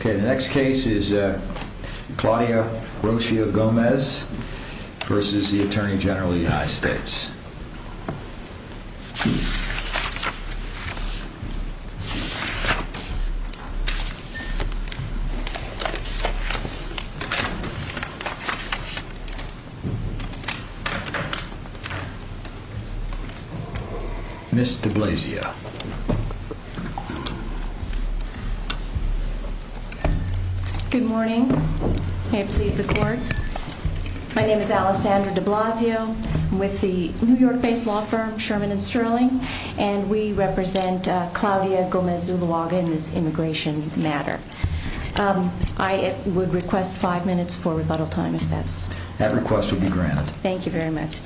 Okay, the next case is Claudia Rocio Gomez versus the Attorney General of the United States. Miss de Blasio. Good morning. May it please the court. My name is Alessandra de Blasio. I'm with the New York-based law firm Sherman and Sterling, and we represent Claudia Gomez Zuluaga in this immigration matter. I would request five minutes for rebuttal time, if that's okay. That request will be granted. Thank you very much.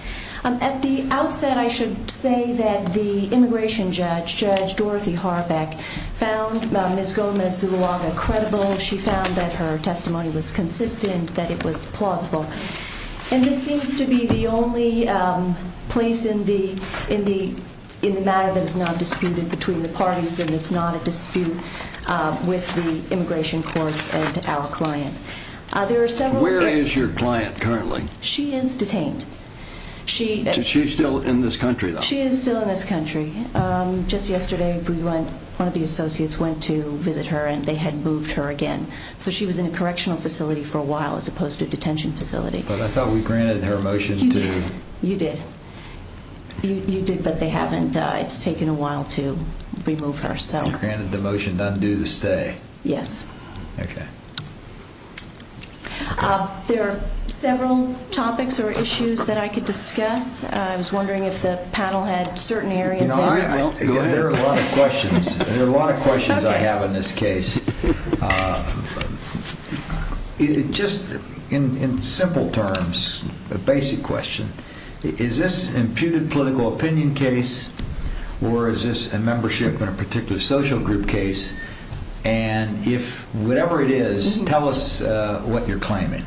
At the outset, I should say that the immigration judge, Judge Dorothy Harbeck, found Miss Gomez Zuluaga credible. She found that her testimony was consistent, that it was plausible. And this seems to be the only place in the matter that is not disputed between the parties, and it's not a dispute with the immigration courts and our client. Where is your client currently? She is detained. She's still in this country, though? She is still in this country. Just yesterday, one of the associates went to visit her, and they had moved her again. So she was in a correctional facility for a while, as opposed to a detention facility. But I thought we granted her motion to... You did. You did, but they haven't. It's taken a while to remove her, so... You granted the motion to undo the stay. Yes. Okay. There are several topics or issues that I could discuss. I was wondering if the panel had certain areas... There are a lot of questions. There are a lot of questions I have in this case. Just in simple terms, a basic question. Is this an imputed political opinion case, or is this a membership in a particular social group case? And if whatever it is, tell us what you're claiming.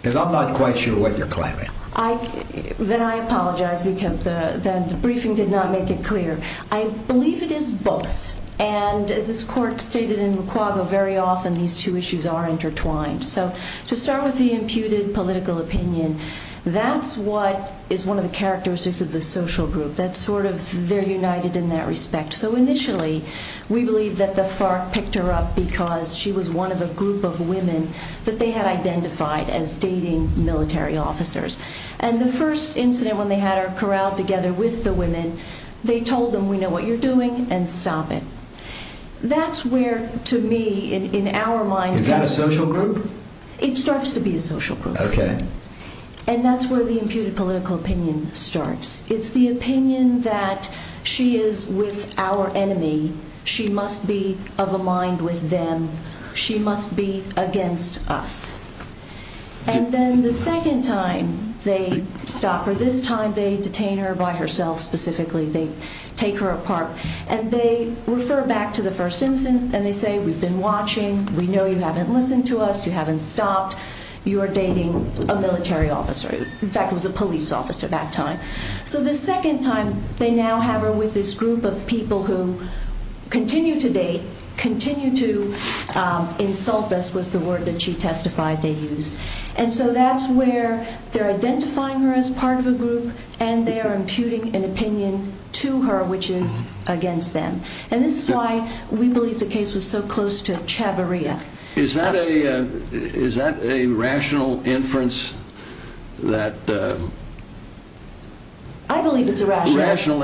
Because I'm not quite sure what you're claiming. Then I apologize, because the briefing did not make it clear. I believe it is both. And as this court stated in McQuaggle, very often these two issues are intertwined. So to start with the imputed political opinion, that's what is one of the characteristics of the social group. They're united in that respect. So initially, we believe that the FARC picked her up because she was one of a group of women that they had identified as dating military officers. And the first incident when they had her corralled together with the women, they told them, we know what you're doing, and stop it. That's where, to me, in our minds... Is that a social group? It starts to be a social group. Okay. And that's where the imputed political opinion starts. It's the opinion that she is with our enemy, she must be of a mind with them, she must be against us. And then the second time they stop her, this time they detain her by herself specifically, they take her apart. And they refer back to the first incident and they say, we've been watching, we know you haven't listened to us, you haven't stopped, you are dating a military officer. In fact, it was a police officer that time. So the second time, they now have her with this group of people who continue to date, continue to insult us, was the word that she testified they used. And so that's where they're identifying her as part of a group and they are imputing an opinion to her which is against them. And this is why we believe the case was so close to chavarria. Is that a rational inference that... I believe it's a rational...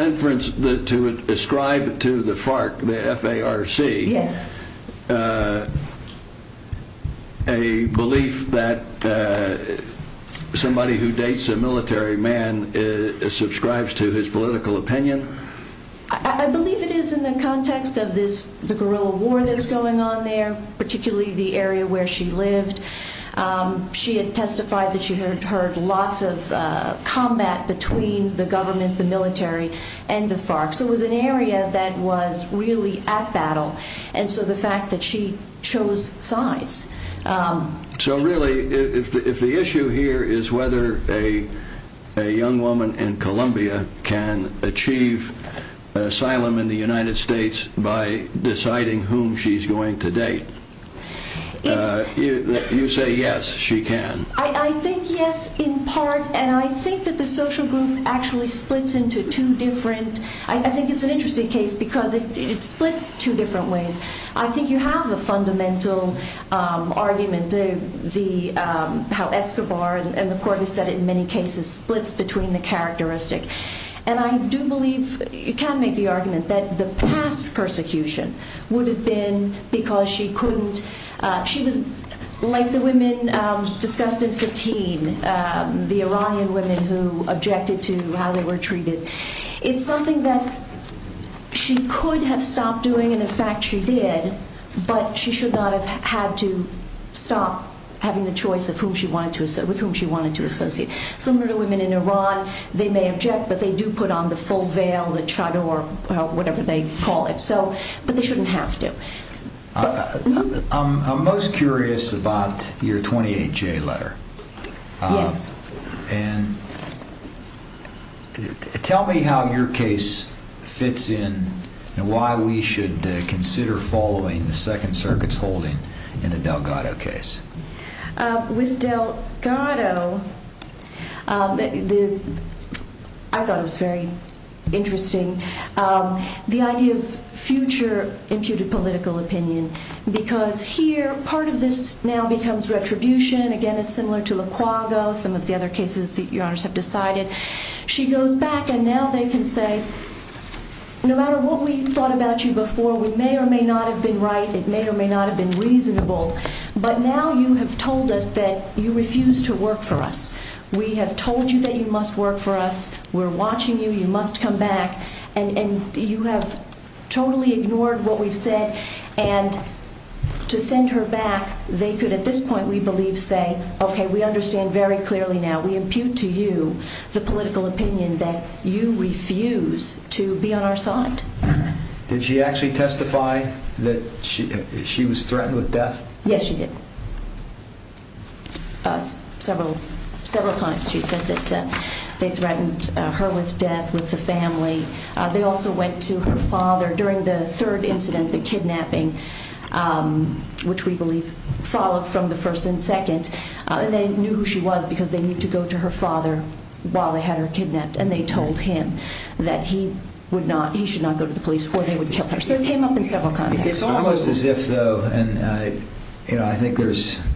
Somebody who dates a military man subscribes to his political opinion. I believe it is in the context of this, the guerrilla war that's going on there, particularly the area where she lived. She had testified that she had heard lots of combat between the government, the military, and the FARC. So it was an area that was really at battle. And so the fact that she chose size... So really, if the issue here is whether a young woman in Colombia can achieve asylum in the United States by deciding whom she's going to date, you say yes, she can. I think yes, in part. And I think that the social group actually splits into two different... I think it's an interesting case because it splits two different ways. I think you have a fundamental argument, how Escobar and the court has said in many cases splits between the characteristic. And I do believe, you can make the argument that the past persecution would have been because she couldn't... She was, like the women discussed in 15, the Orion women who objected to how they were treated. It's something that she could have stopped doing, and in fact she did, but she should not have had to stop having the choice with whom she wanted to associate. Similar to women in Iran, they may object, but they do put on the full veil, the chador, whatever they call it. But they shouldn't have to. I'm most curious about your 28-J letter. Yes. And tell me how your case fits in and why we should consider following the Second Circuit's holding in the Delgado case. With Delgado, I thought it was very interesting, the idea of future imputed political opinion. Because here, part of this now becomes retribution. Again, it's similar to Lacuago, some of the other cases that your honors have decided. She goes back and now they can say, no matter what we thought about you before, we may or may not have been right. It may or may not have been reasonable. But now you have told us that you refuse to work for us. We have told you that you must work for us. We're watching you. You must come back. And you have totally ignored what we've said. And to send her back, they could at this point, we believe, say, okay, we understand very clearly now. We impute to you the political opinion that you refuse to be on our side. Did she actually testify that she was threatened with death? Yes, she did. Several times she said that they threatened her with death, with the family. They also went to her father during the third incident, the kidnapping, which we believe followed from the first and second. And they knew who she was because they needed to go to her father while they had her kidnapped. And they told him that he should not go to the police or they would kill her. So it came up in several contexts. It's almost as if, though, and I think there's –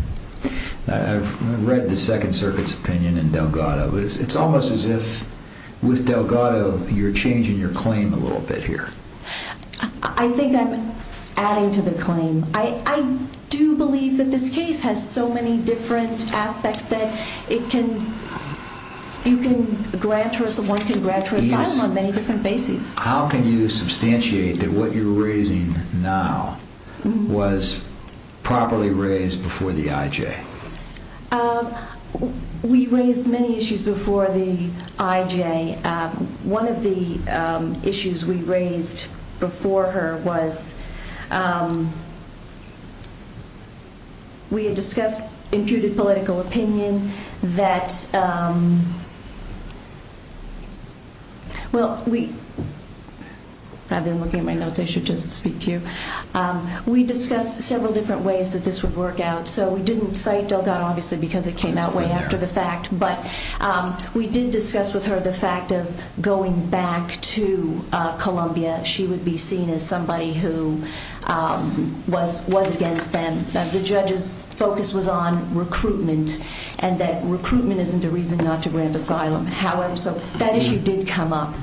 I've read the Second Circuit's opinion in Delgado. It's almost as if with Delgado you're changing your claim a little bit here. I think I'm adding to the claim. I do believe that this case has so many different aspects that it can – you can grant her – one can grant her asylum on many different bases. How can you substantiate that what you're raising now was properly raised before the IJ? We raised many issues before the IJ. One of the issues we raised before her was we had discussed imputed political opinion that – well, we – rather than looking at my notes, I should just speak to you. We discussed several different ways that this would work out. So we didn't cite Delgado, obviously, because it came out way after the fact. But we did discuss with her the fact of going back to Colombia. She would be seen as somebody who was against them. The judge's focus was on recruitment and that recruitment isn't a reason not to grant asylum. However, so that issue did come up.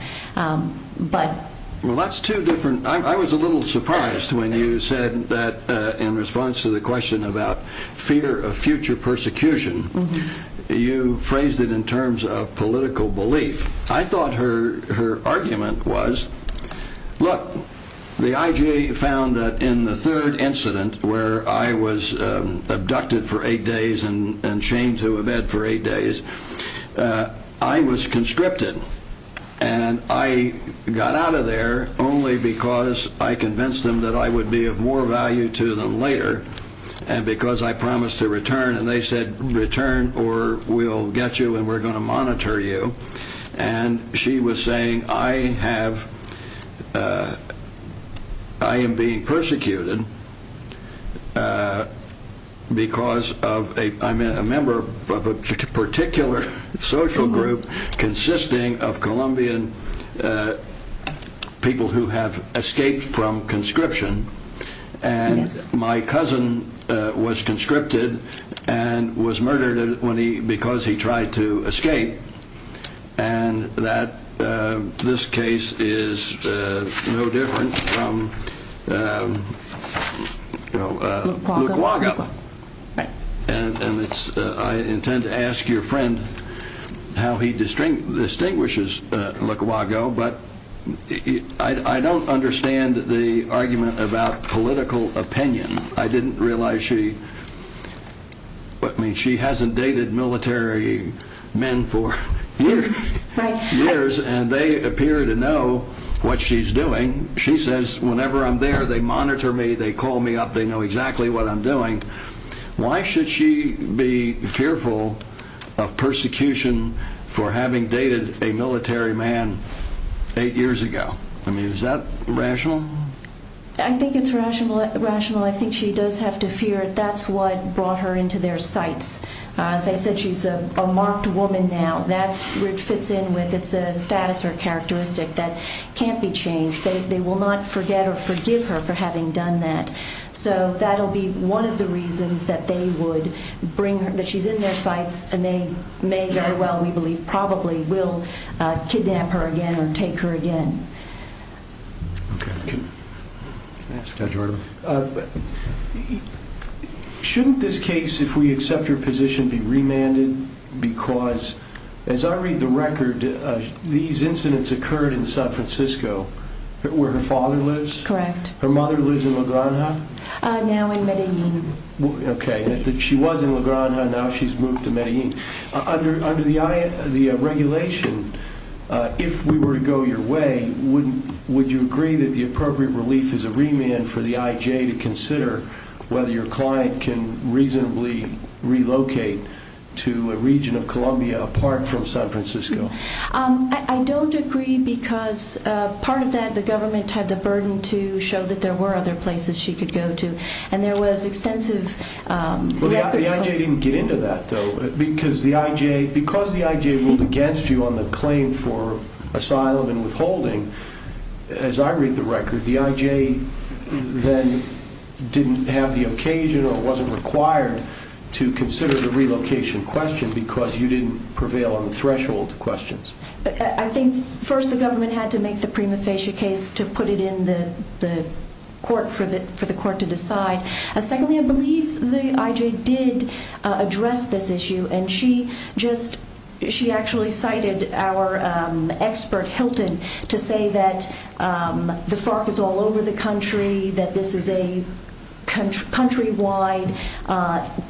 Well, that's two different – I was a little surprised when you said that in response to the question about fear of future persecution, you phrased it in terms of political belief. I thought her argument was, look, the IJ found that in the third incident where I was abducted for eight days and chained to a bed for eight days, I was conscripted and I got out of there only because I convinced them that I would be of more value to them later and because I promised to return. And they said, return or we'll get you and we're going to monitor you. And she was saying, I am being persecuted because I'm a member of a particular social group consisting of Colombian people who have escaped from conscription. And my cousin was conscripted and was murdered when he – because he tried to escape. And that – this case is no different from, you know – Lukwaga. Lukwaga. And it's – I intend to ask your friend how he distinguishes Lukwaga, but I don't understand the argument about political opinion. I didn't realize she – I mean, she hasn't dated military men for years and they appear to know what she's doing. She says, whenever I'm there, they monitor me, they call me up, they know exactly what I'm doing. Why should she be fearful of persecution for having dated a military man eight years ago? I mean, is that rational? I think it's rational. I think she does have to fear it. That's what brought her into their sights. As I said, she's a marked woman now. That's – it fits in with – it's a status or characteristic that can't be changed. They will not forget or forgive her for having done that. So that will be one of the reasons that they would bring her – that she's in their sights and they may very well, we believe, probably will kidnap her again or take her again. Shouldn't this case, if we accept her position, be remanded because, as I read the record, these incidents occurred in San Francisco where her father lives? Correct. Her mother lives in La Granja? Now in Medellin. Okay. She was in La Granja, now she's moved to Medellin. Under the regulation, if we were to go your way, would you agree that the appropriate relief is a remand for the IJ to consider whether your client can reasonably relocate to a region of Colombia apart from San Francisco? I don't agree because part of that, the government had the burden to show that there were other places she could go to, and there was extensive – Well, the IJ didn't get into that, though. Because the IJ ruled against you on the claim for asylum and withholding, as I read the record, the IJ then didn't have the occasion or wasn't required to consider the relocation question because you didn't prevail on the threshold questions. I think, first, the government had to make the prima facie case to put it in the court for the court to decide. Secondly, I believe the IJ did address this issue, and she actually cited our expert, Hilton, to say that the FARC is all over the country, that this is a countrywide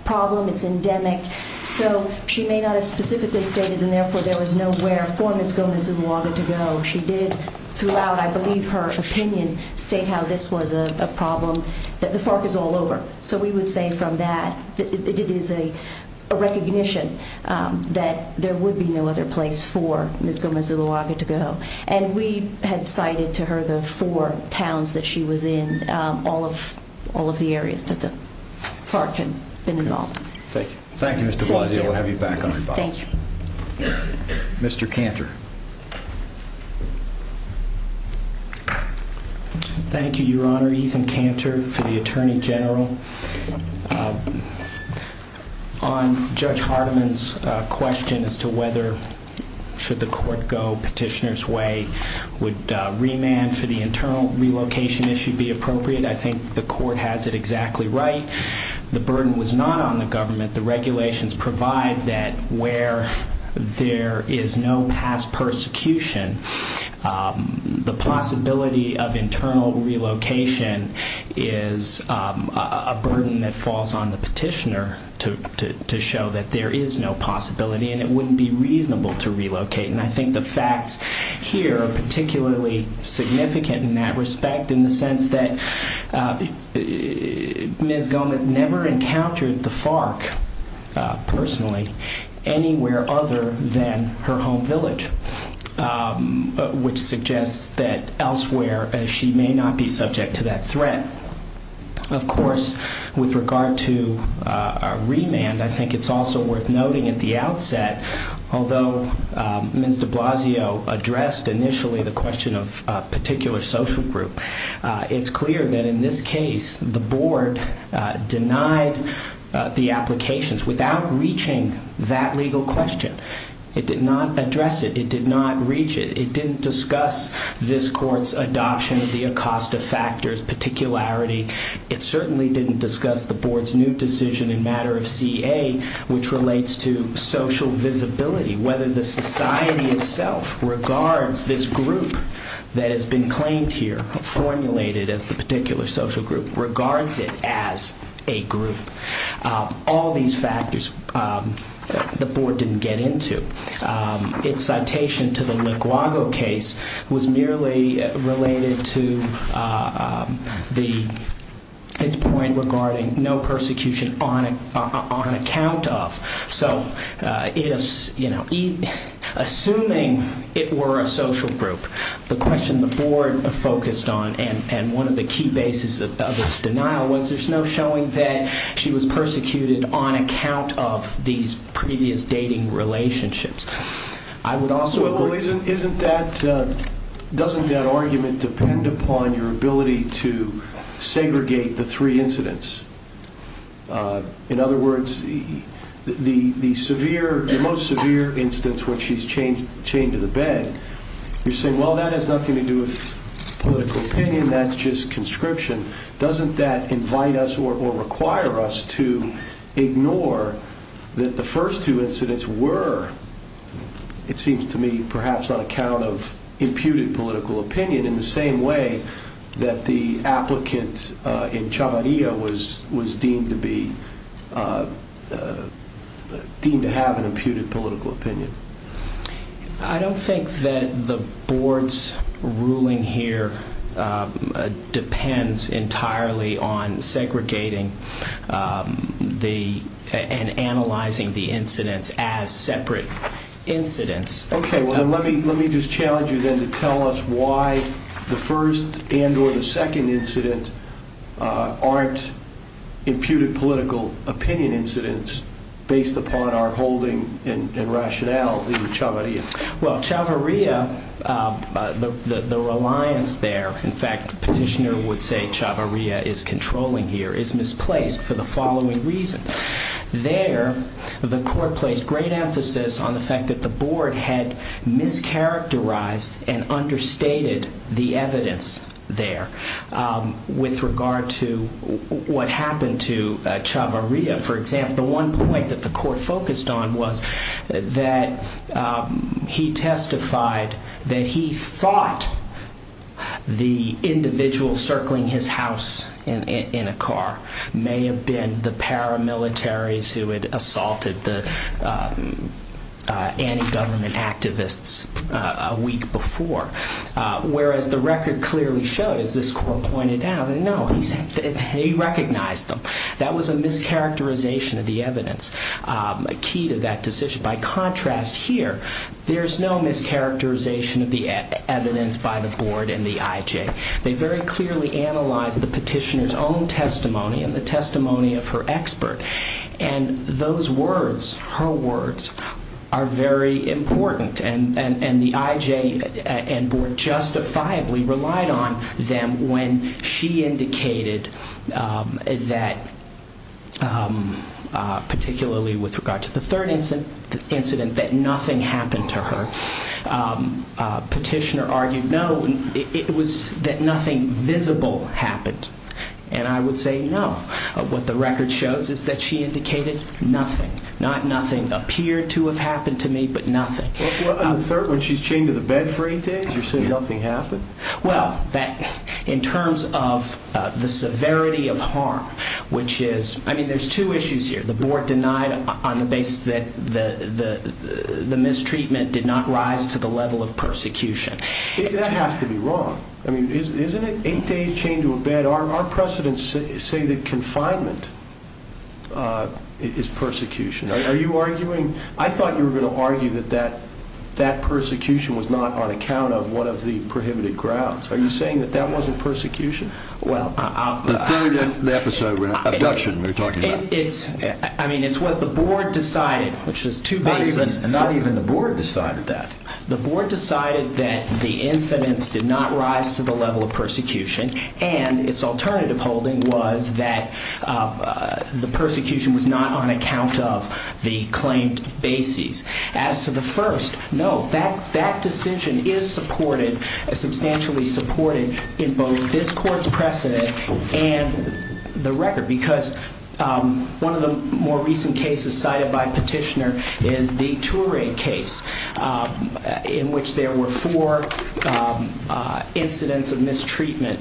problem, it's endemic. So she may not have specifically stated, and therefore, there was nowhere for Ms. Gomez-Zulawaga to go. She did, throughout, I believe, her opinion, state how this was a problem, that the FARC is all over. So we would say from that, it is a recognition that there would be no other place for Ms. Gomez-Zulawaga to go. And we had cited to her the four towns that she was in, all of the areas that the FARC had been involved in. Thank you. Thank you, Mr. Bloddy. We'll have you back on, Bob. Thank you. Mr. Cantor. Thank you, Your Honor. Ethan Cantor for the Attorney General. On Judge Hardiman's question as to whether, should the court go petitioner's way, would remand for the internal relocation issue be appropriate? I think the court has it exactly right. The burden was not on the government. The regulations provide that where there is no past persecution, the possibility of internal relocation is a burden that falls on the petitioner to show that there is no possibility, and it wouldn't be reasonable to relocate. And I think the facts here are particularly significant in that respect, in the sense that Ms. Gomez never encountered the FARC, personally, anywhere other than her home village. Which suggests that elsewhere she may not be subject to that threat. Of course, with regard to a remand, I think it's also worth noting at the outset, although Ms. de Blasio addressed initially the question of a particular social group, it's clear that in this case the board denied the applications without reaching that legal question. It did not address it. It did not reach it. It didn't discuss this court's adoption of the Acosta factors, particularity. It certainly didn't discuss the board's new decision in matter of CA, which relates to social visibility, whether the society itself regards this group that has been claimed here, formulated as the particular social group, regards it as a group. All these factors the board didn't get into. Its citation to the Liguago case was merely related to its point regarding no persecution on account of. So, assuming it were a social group, the question the board focused on, and one of the key bases of this denial was there's no showing that she was persecuted on account of these previous dating relationships. I would also agree. Well, doesn't that argument depend upon your ability to segregate the three incidents? In other words, the most severe instance when she's chained to the bed, you're saying, well, that has nothing to do with political opinion. That's just conscription. Doesn't that invite us or require us to ignore that the first two incidents were, it seems to me, perhaps on account of imputed political opinion, in the same way that the applicant in Chavarria was deemed to have an imputed political opinion? I don't think that the board's ruling here depends entirely on segregating and analyzing the incidents as separate incidents. Okay, well, let me just challenge you then to tell us why the first and or the second incident aren't imputed political opinion incidents based upon our holding and rationale in Chavarria. Well, Chavarria, the reliance there, in fact, the petitioner would say Chavarria is controlling here, is misplaced for the following reason. There, the court placed great emphasis on the fact that the board had mischaracterized and understated the evidence there with regard to what happened to Chavarria. For example, the one point that the court focused on was that he testified that he thought the individual circling his house in a car may have been the paramilitaries who had assaulted the anti-government activists a week before, whereas the record clearly showed, as this court pointed out, that no, he recognized them. That was a mischaracterization of the evidence, a key to that decision. By contrast here, there's no mischaracterization of the evidence by the board and the IJ. They very clearly analyzed the petitioner's own testimony and the testimony of her expert, and those words, her words, are very important, and the IJ and board justifiably relied on them when she indicated that, particularly with regard to the third incident, that nothing happened to her. Petitioner argued no, it was that nothing visible happened, and I would say no. What the record shows is that she indicated nothing, not nothing appeared to have happened to me, but nothing. On the third, when she's chained to the bed for eight days, you're saying nothing happened? Well, in terms of the severity of harm, which is, I mean, there's two issues here. The board denied on the basis that the mistreatment did not rise to the level of persecution. That has to be wrong. I mean, isn't it eight days chained to a bed? Our precedents say that confinement is persecution. Are you arguing? I thought you were going to argue that that persecution was not on account of one of the prohibited grounds. Are you saying that that wasn't persecution? The third episode, abduction, we're talking about. I mean, it's what the board decided, which is two bases. Not even the board decided that. The board decided that the incidents did not rise to the level of persecution, and its alternative holding was that the persecution was not on account of the claimed bases. As to the first, no, that decision is supported, substantially supported, in both this court's precedent and the record, because one of the more recent cases cited by Petitioner is the Touré case, in which there were four incidents of mistreatment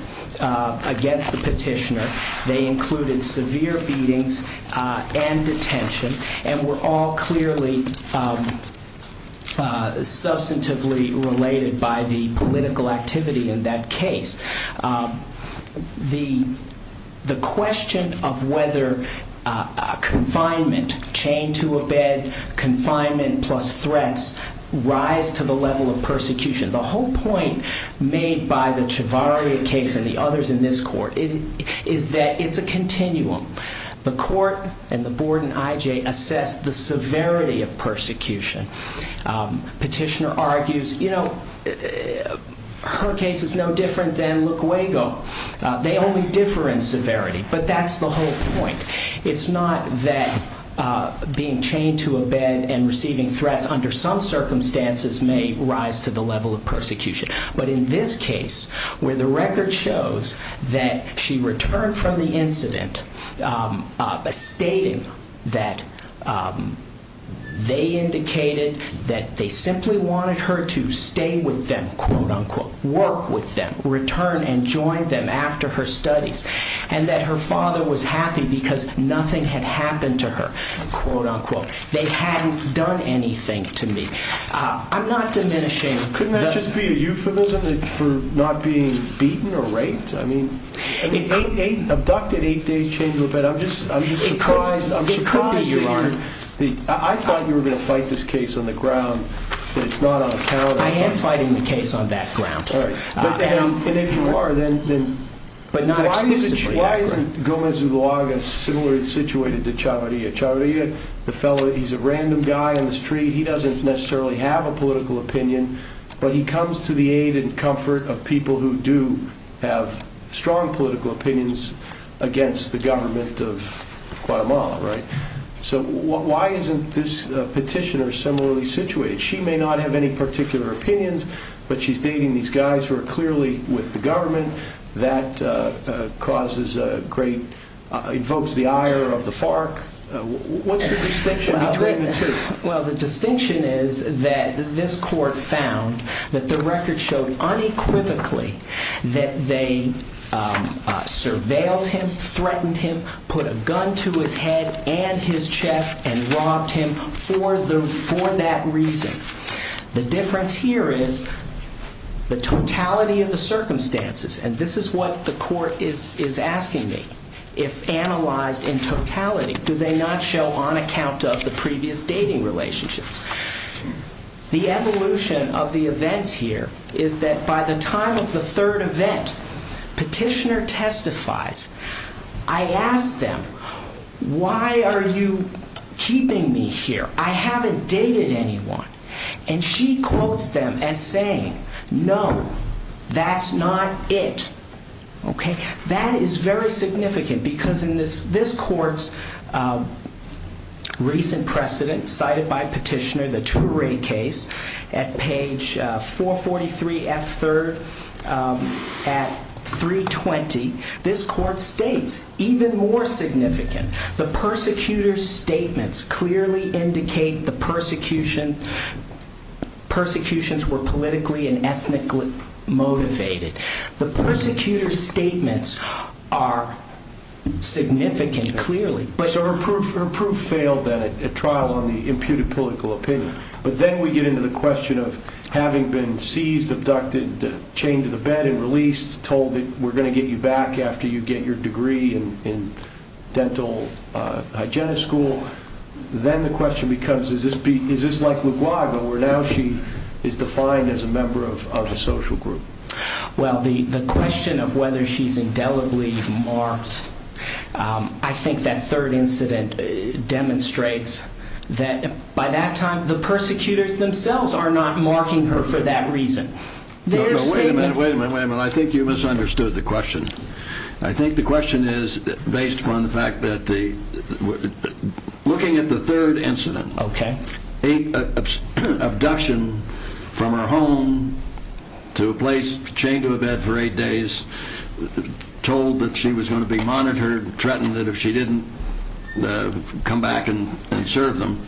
against the Petitioner. They included severe beatings and detention, and were all clearly substantively related by the political activity in that case. The question of whether confinement, chained to a bed, confinement plus threats, rise to the level of persecution. The whole point made by the Chavarria case and the others in this court is that it's a continuum. The court and the board and IJ assess the severity of persecution. Petitioner argues, you know, her case is no different than Luquego. They only differ in severity, but that's the whole point. It's not that being chained to a bed and receiving threats under some circumstances may rise to the level of persecution. But in this case, where the record shows that she returned from the incident, stating that they indicated that they simply wanted her to stay with them, quote-unquote, work with them, return and join them after her studies, and that her father was happy because nothing had happened to her, quote-unquote. They hadn't done anything to me. I'm not diminishing. Couldn't that just be a euphemism for not being beaten or raped? I mean, abducted, eight days, chained to a bed. I'm just surprised. It could be, Your Honor. I thought you were going to fight this case on the ground, but it's not on the calendar. I am fighting the case on that ground. All right. And if you are, then why isn't Gomez Zulaga similarly situated to Chavarria? Chavarria, the fellow, he's a random guy on the street. He doesn't necessarily have a political opinion, but he comes to the aid and comfort of people who do have strong political opinions against the government of Guatemala, right? So why isn't this petitioner similarly situated? She may not have any particular opinions, but she's dating these guys who are clearly with the government. That invokes the ire of the FARC. What's the distinction between the two? Well, the distinction is that this court found that the record showed unequivocally that they surveilled him, threatened him, put a gun to his head and his chest, and robbed him for that reason. The difference here is the totality of the circumstances. And this is what the court is asking me. If analyzed in totality, do they not show on account of the previous dating relationships? The evolution of the events here is that by the time of the third event, petitioner testifies. I ask them, why are you keeping me here? I haven't dated anyone. And she quotes them as saying, no, that's not it. OK, that is very significant because in this court's recent precedent cited by petitioner, the Ture case at page 443 F3 at 320, this court states even more significant. The persecutor's statements clearly indicate the persecutions were politically and ethnically motivated. The persecutor's statements are significant, clearly. So her proof failed then at trial on the imputed political opinion. But then we get into the question of having been seized, abducted, chained to the bed and released, told that we're going to get you back after you get your degree in dental hygienist school. Then the question becomes, is this like LaGuardia where now she is defined as a member of a social group? Well, the question of whether she's indelibly marred, I think that third incident demonstrates that by that time, the persecutors themselves are not marking her for that reason. Wait a minute, wait a minute, wait a minute. I think you misunderstood the question. I think the question is based upon the fact that looking at the third incident, abduction from her home to a place chained to a bed for eight days, told that she was going to be monitored, threatened that if she didn't come back and serve them,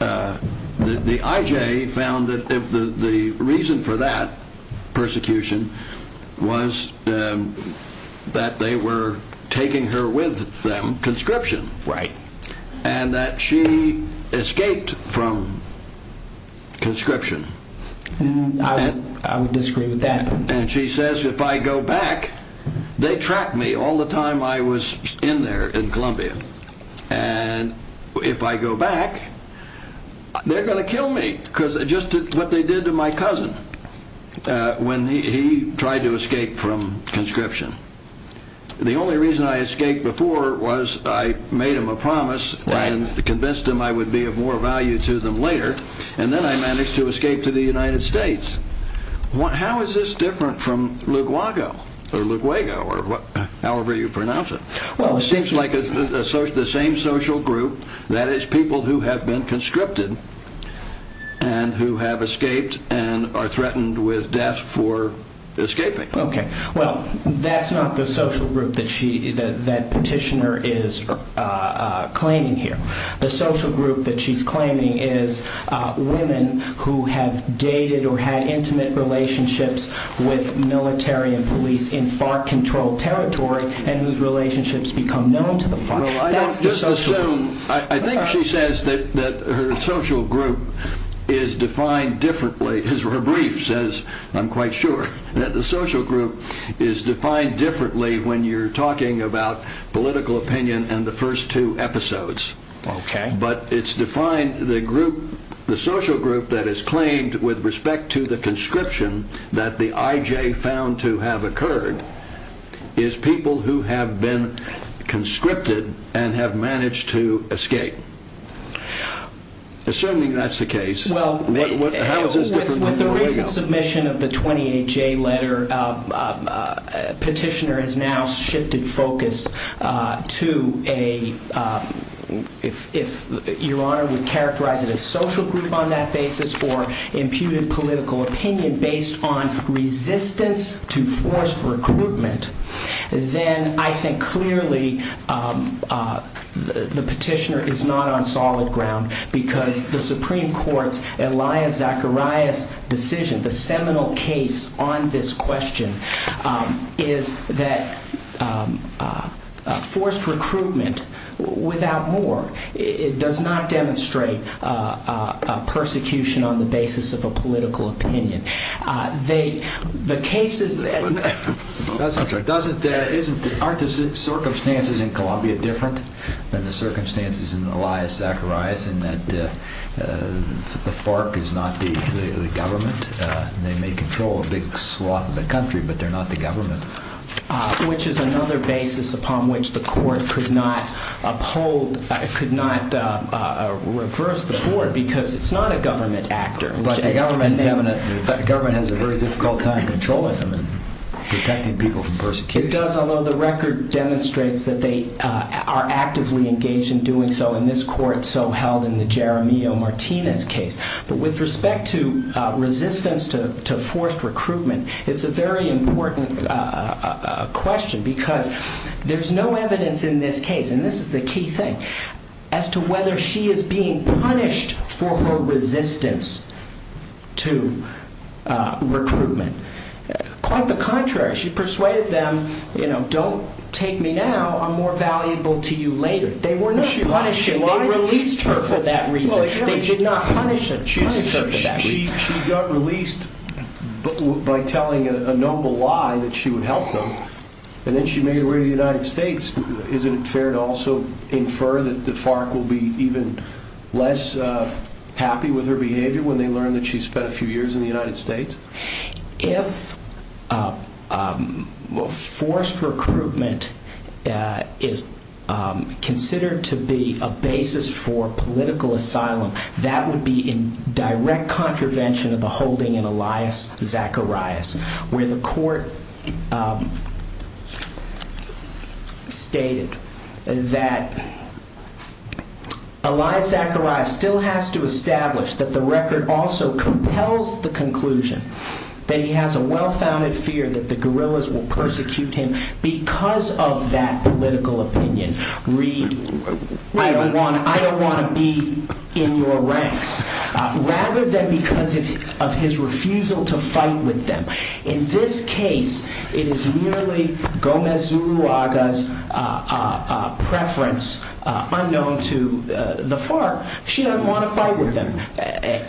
the IJ found that the reason for that persecution was that they were taking her with them, conscription. Right. And that she escaped from conscription. I would disagree with that. And she says, if I go back, they track me all the time I was in there in Columbia. And if I go back, they're going to kill me. Because just what they did to my cousin when he tried to escape from conscription. The only reason I escaped before was I made him a promise and convinced him I would be of more value to them later. And then I managed to escape to the United States. How is this different from Lugwago or Lugwego or however you pronounce it? Well, it seems like the same social group. That is, people who have been conscripted and who have escaped and are threatened with death for escaping. Okay. Well, that's not the social group that petitioner is claiming here. The social group that she's claiming is women who have dated or had intimate relationships with military and police in FARC-controlled territory and whose relationships become known to the FARC. Well, I don't just assume. I think she says that her social group is defined differently. Her brief says, I'm quite sure, that the social group is defined differently when you're talking about political opinion and the first two episodes. Okay. But it's defined, the social group that is claimed with respect to the conscription that the IJ found to have occurred is people who have been conscripted and have managed to escape. Assuming that's the case, how is this different from Lugwago? Based on submission of the 28-J letter, petitioner has now shifted focus to a, if Your Honor would characterize it as social group on that basis or imputed political opinion based on resistance to forced recruitment, then I think clearly the petitioner is not on solid ground because the Supreme Court's Elia Zacharias decision, the seminal case on this question, is that forced recruitment, without more, does not demonstrate persecution on the basis of a political opinion. Aren't the circumstances in Colombia different than the circumstances in Elia Zacharias in that the FARC is not the government? They may control a big swath of the country, but they're not the government. Which is another basis upon which the court could not reverse the board because it's not a government actor. But the government has a very difficult time controlling them and protecting people from persecution. It does, although the record demonstrates that they are actively engaged in doing so in this court, so held in the Jeremio Martinez case. But with respect to resistance to forced recruitment, it's a very important question because there's no evidence in this case, and this is the key thing, as to whether she is being punished for her resistance to recruitment. Quite the contrary, she persuaded them, you know, don't take me now, I'm more valuable to you later. They were not punishing her, they released her for that reason. They did not punish her for that reason. She got released by telling a noble lie that she would help them, and then she made her way to the United States. Isn't it fair to also infer that the FARC will be even less happy with her behavior when they learn that she spent a few years in the United States? If forced recruitment is considered to be a basis for political asylum, that would be in direct contravention of the holding in Elias Zacharias, where the court stated that Elias Zacharias still has to establish that the record also compels the conclusion that he has a well-founded fear that the guerrillas will persecute him because of that political opinion. Read, I don't want to be in your ranks, rather than because of his refusal to fight with them. In this case, it is merely Gomez Zuluaga's preference unknown to the FARC. She doesn't want to fight with them.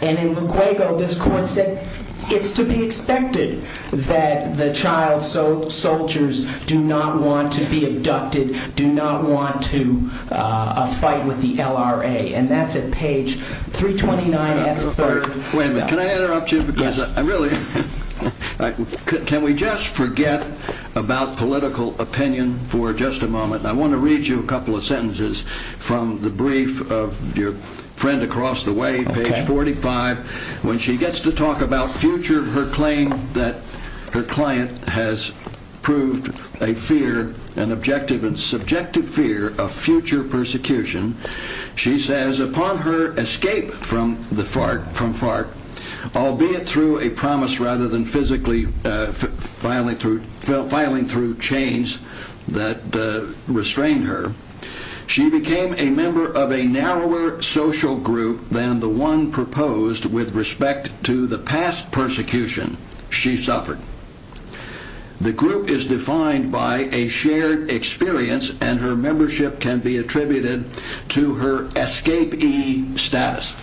In Luguego, this court said it's to be expected that the child soldiers do not want to be abducted, do not want to fight with the LRA. And that's at page 329. Wait a minute, can I interrupt you? Yes. Can we just forget about political opinion for just a moment? I want to read you a couple of sentences from the brief of your friend across the way, page 45. When she gets to talk about future, her claim that her client has proved a fear, an objective and subjective fear of future persecution, she says, upon her escape from FARC, albeit through a promise rather than physically filing through chains that restrain her, she became a member of a narrower social group than the one proposed with respect to the past persecution she suffered. The group is defined by a shared experience and her membership can be attributed to her escapee status.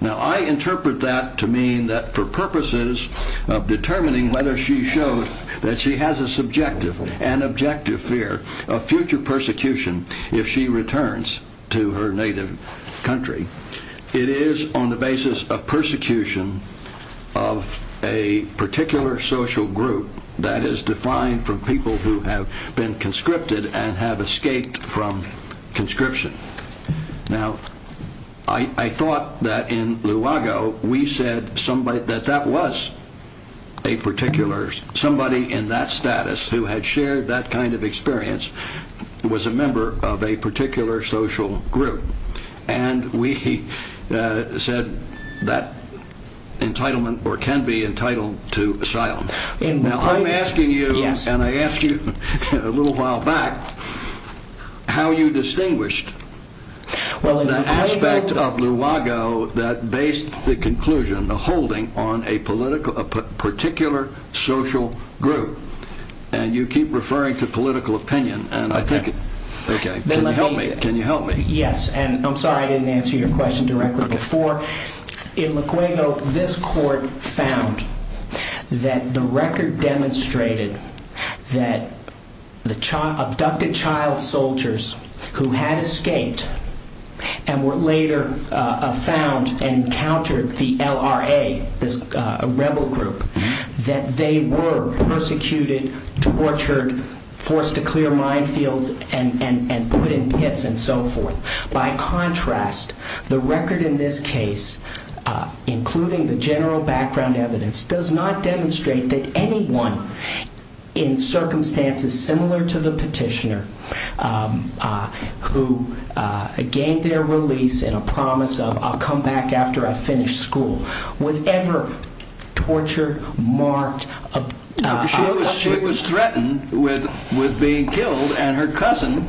Now, I interpret that to mean that for purposes of determining whether she showed that she has a subjective and objective fear of future persecution if she returns to her native country, it is on the basis of persecution of a particular social group that is defined from people who have been conscripted and have escaped from conscription. Now, I thought that in Luago, we said that that was a particular, somebody in that status who had shared that kind of experience was a member of a particular social group. And we said that entitlement or can be entitled to asylum. Now, I'm asking you, and I asked you a little while back, how you distinguished the aspect of Luago that based the conclusion, the holding on a particular social group. And you keep referring to political opinion. Can you help me? Yes. And I'm sorry I didn't answer your question directly before. In Luago, this court found that the record demonstrated that the abducted child soldiers who had escaped and were later found and countered the LRA, this rebel group, that they were persecuted, tortured, forced to clear minefields and put in pits. By contrast, the record in this case, including the general background evidence, does not demonstrate that anyone in circumstances similar to the petitioner who gained their release in a promise of I'll come back after I finish school was ever tortured, marked, abducted. She was threatened with being killed and her cousin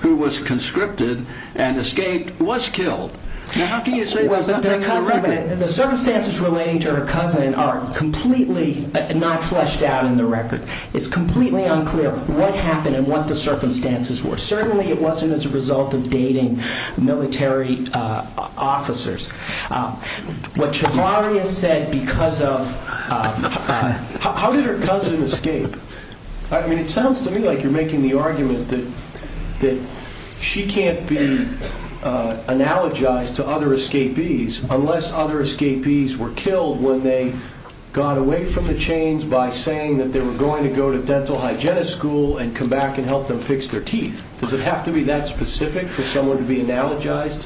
who was conscripted and escaped was killed. Now, how can you say that's not in the record? The circumstances relating to her cousin are completely not fleshed out in the record. It's completely unclear what happened and what the circumstances were. Certainly, it wasn't as a result of dating military officers. How did her cousin escape? It sounds to me like you're making the argument that she can't be analogized to other escapees unless other escapees were killed when they got away from the chains by saying that they were going to go to dental hygienist school and come back and help them fix their teeth. Does it have to be that specific for someone to be analogized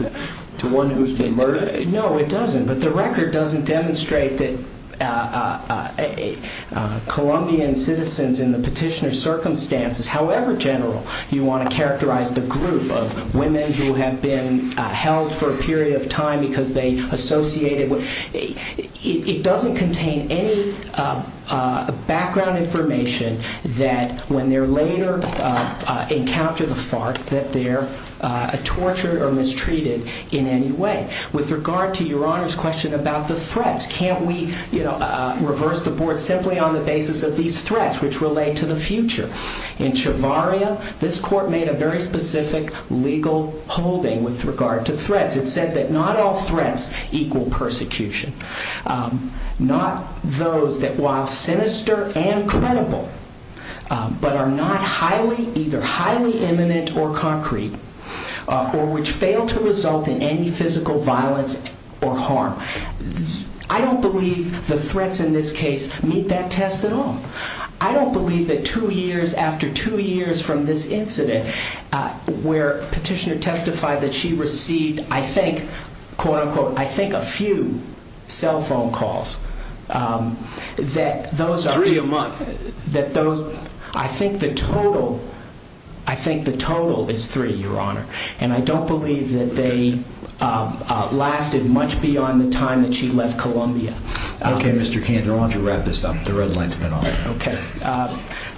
to one who's been murdered? No, it doesn't. But the record doesn't demonstrate that Colombian citizens in the petitioner's circumstances, however general you want to characterize the group of women who have been held for a period of time because they associated with, it doesn't contain any background information that when they're later encounter the fart that they're tortured or mistreated in any way. With regard to Your Honor's question about the threats, can't we reverse the board simply on the basis of these threats which relate to the future? In Chevarria, this court made a very specific legal holding with regard to threats. It said that not all threats equal persecution. Not those that while sinister and credible but are not either highly imminent or concrete or which fail to result in any physical violence or harm. I don't believe the threats in this case meet that test at all. I don't believe that two years after two years from this incident where petitioner testified that she received, I think, quote unquote, I think a few cell phone calls. Three a month. I think the total is three, Your Honor. And I don't believe that they lasted much beyond the time that she left Colombia. Okay, Mr. Cantor, why don't you wrap this up? The red line's been on. Okay.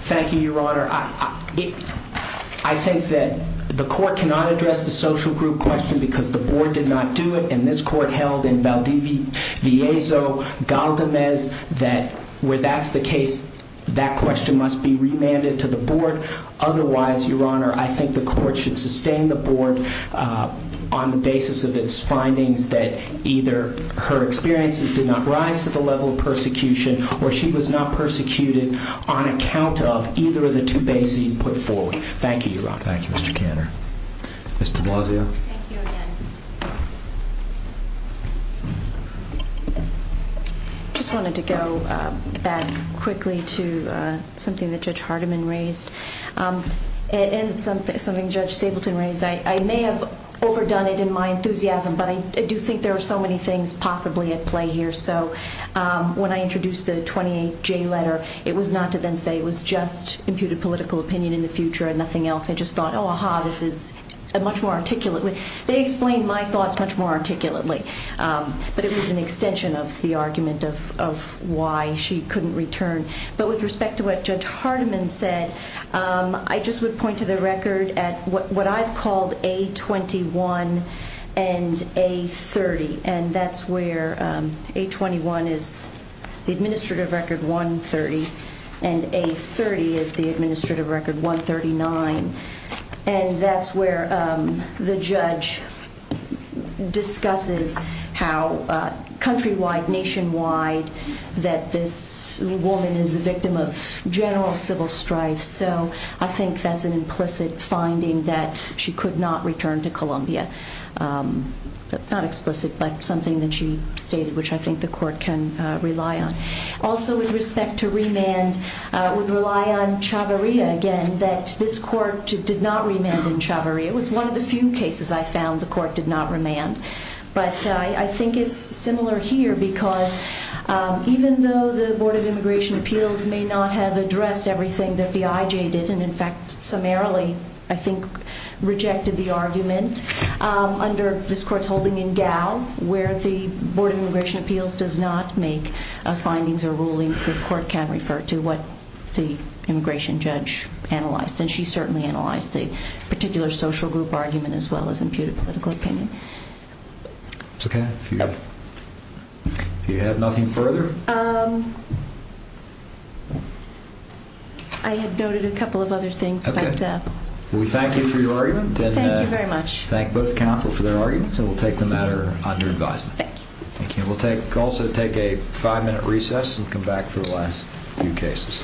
Thank you, Your Honor. I think that the court cannot address the social group question because the board did not do it. And this court held in Valdivia, Viezo, Galdamez that where that's the case, that question must be remanded to the board. Otherwise, Your Honor, I think the court should sustain the board on the basis of its findings that either her experiences did not rise to the level of persecution or she was not persecuted on account of either of the two bases put forward. Thank you, Your Honor. Thank you, Mr. Cantor. Ms. de Blasio. Thank you again. I just wanted to go back quickly to something that Judge Hardiman raised and something Judge Stapleton raised. I may have overdone it in my enthusiasm, but I do think there are so many things possibly at play here. So when I introduced the 28J letter, it was not to then say it was just imputed political opinion in the future and nothing else. I just thought, oh, aha, this is much more articulate. They explained my thoughts much more articulately, but it was an extension of the argument of why she couldn't return. But with respect to what Judge Hardiman said, I just would point to the record at what I've called A21 and A30. And that's where A21 is the administrative record 130 and A30 is the administrative record 139. And that's where the judge discusses how countrywide, nationwide, that this woman is a victim of general civil strife. So I think that's an implicit finding that she could not return to Colombia. Not explicit, but something that she stated, which I think the court can rely on. Also, with respect to remand, I would rely on Chavarria again, that this court did not remand in Chavarria. It was one of the few cases I found the court did not remand. But I think it's similar here because even though the Board of Immigration Appeals may not have addressed everything that the IJ did, and in fact summarily, I think, rejected the argument, under this court's holding in Gao, where the Board of Immigration Appeals does not make findings or rulings, the court can refer to what the immigration judge analyzed. And she certainly analyzed the particular social group argument as well as imputed political opinion. If you have nothing further? I had noted a couple of other things. Okay. We thank you for your argument. Thank you very much. Thank both counsel for their arguments, and we'll take the matter under advisement. Thank you. Thank you. We'll also take a five-minute recess and come back for the last few cases. Please rise.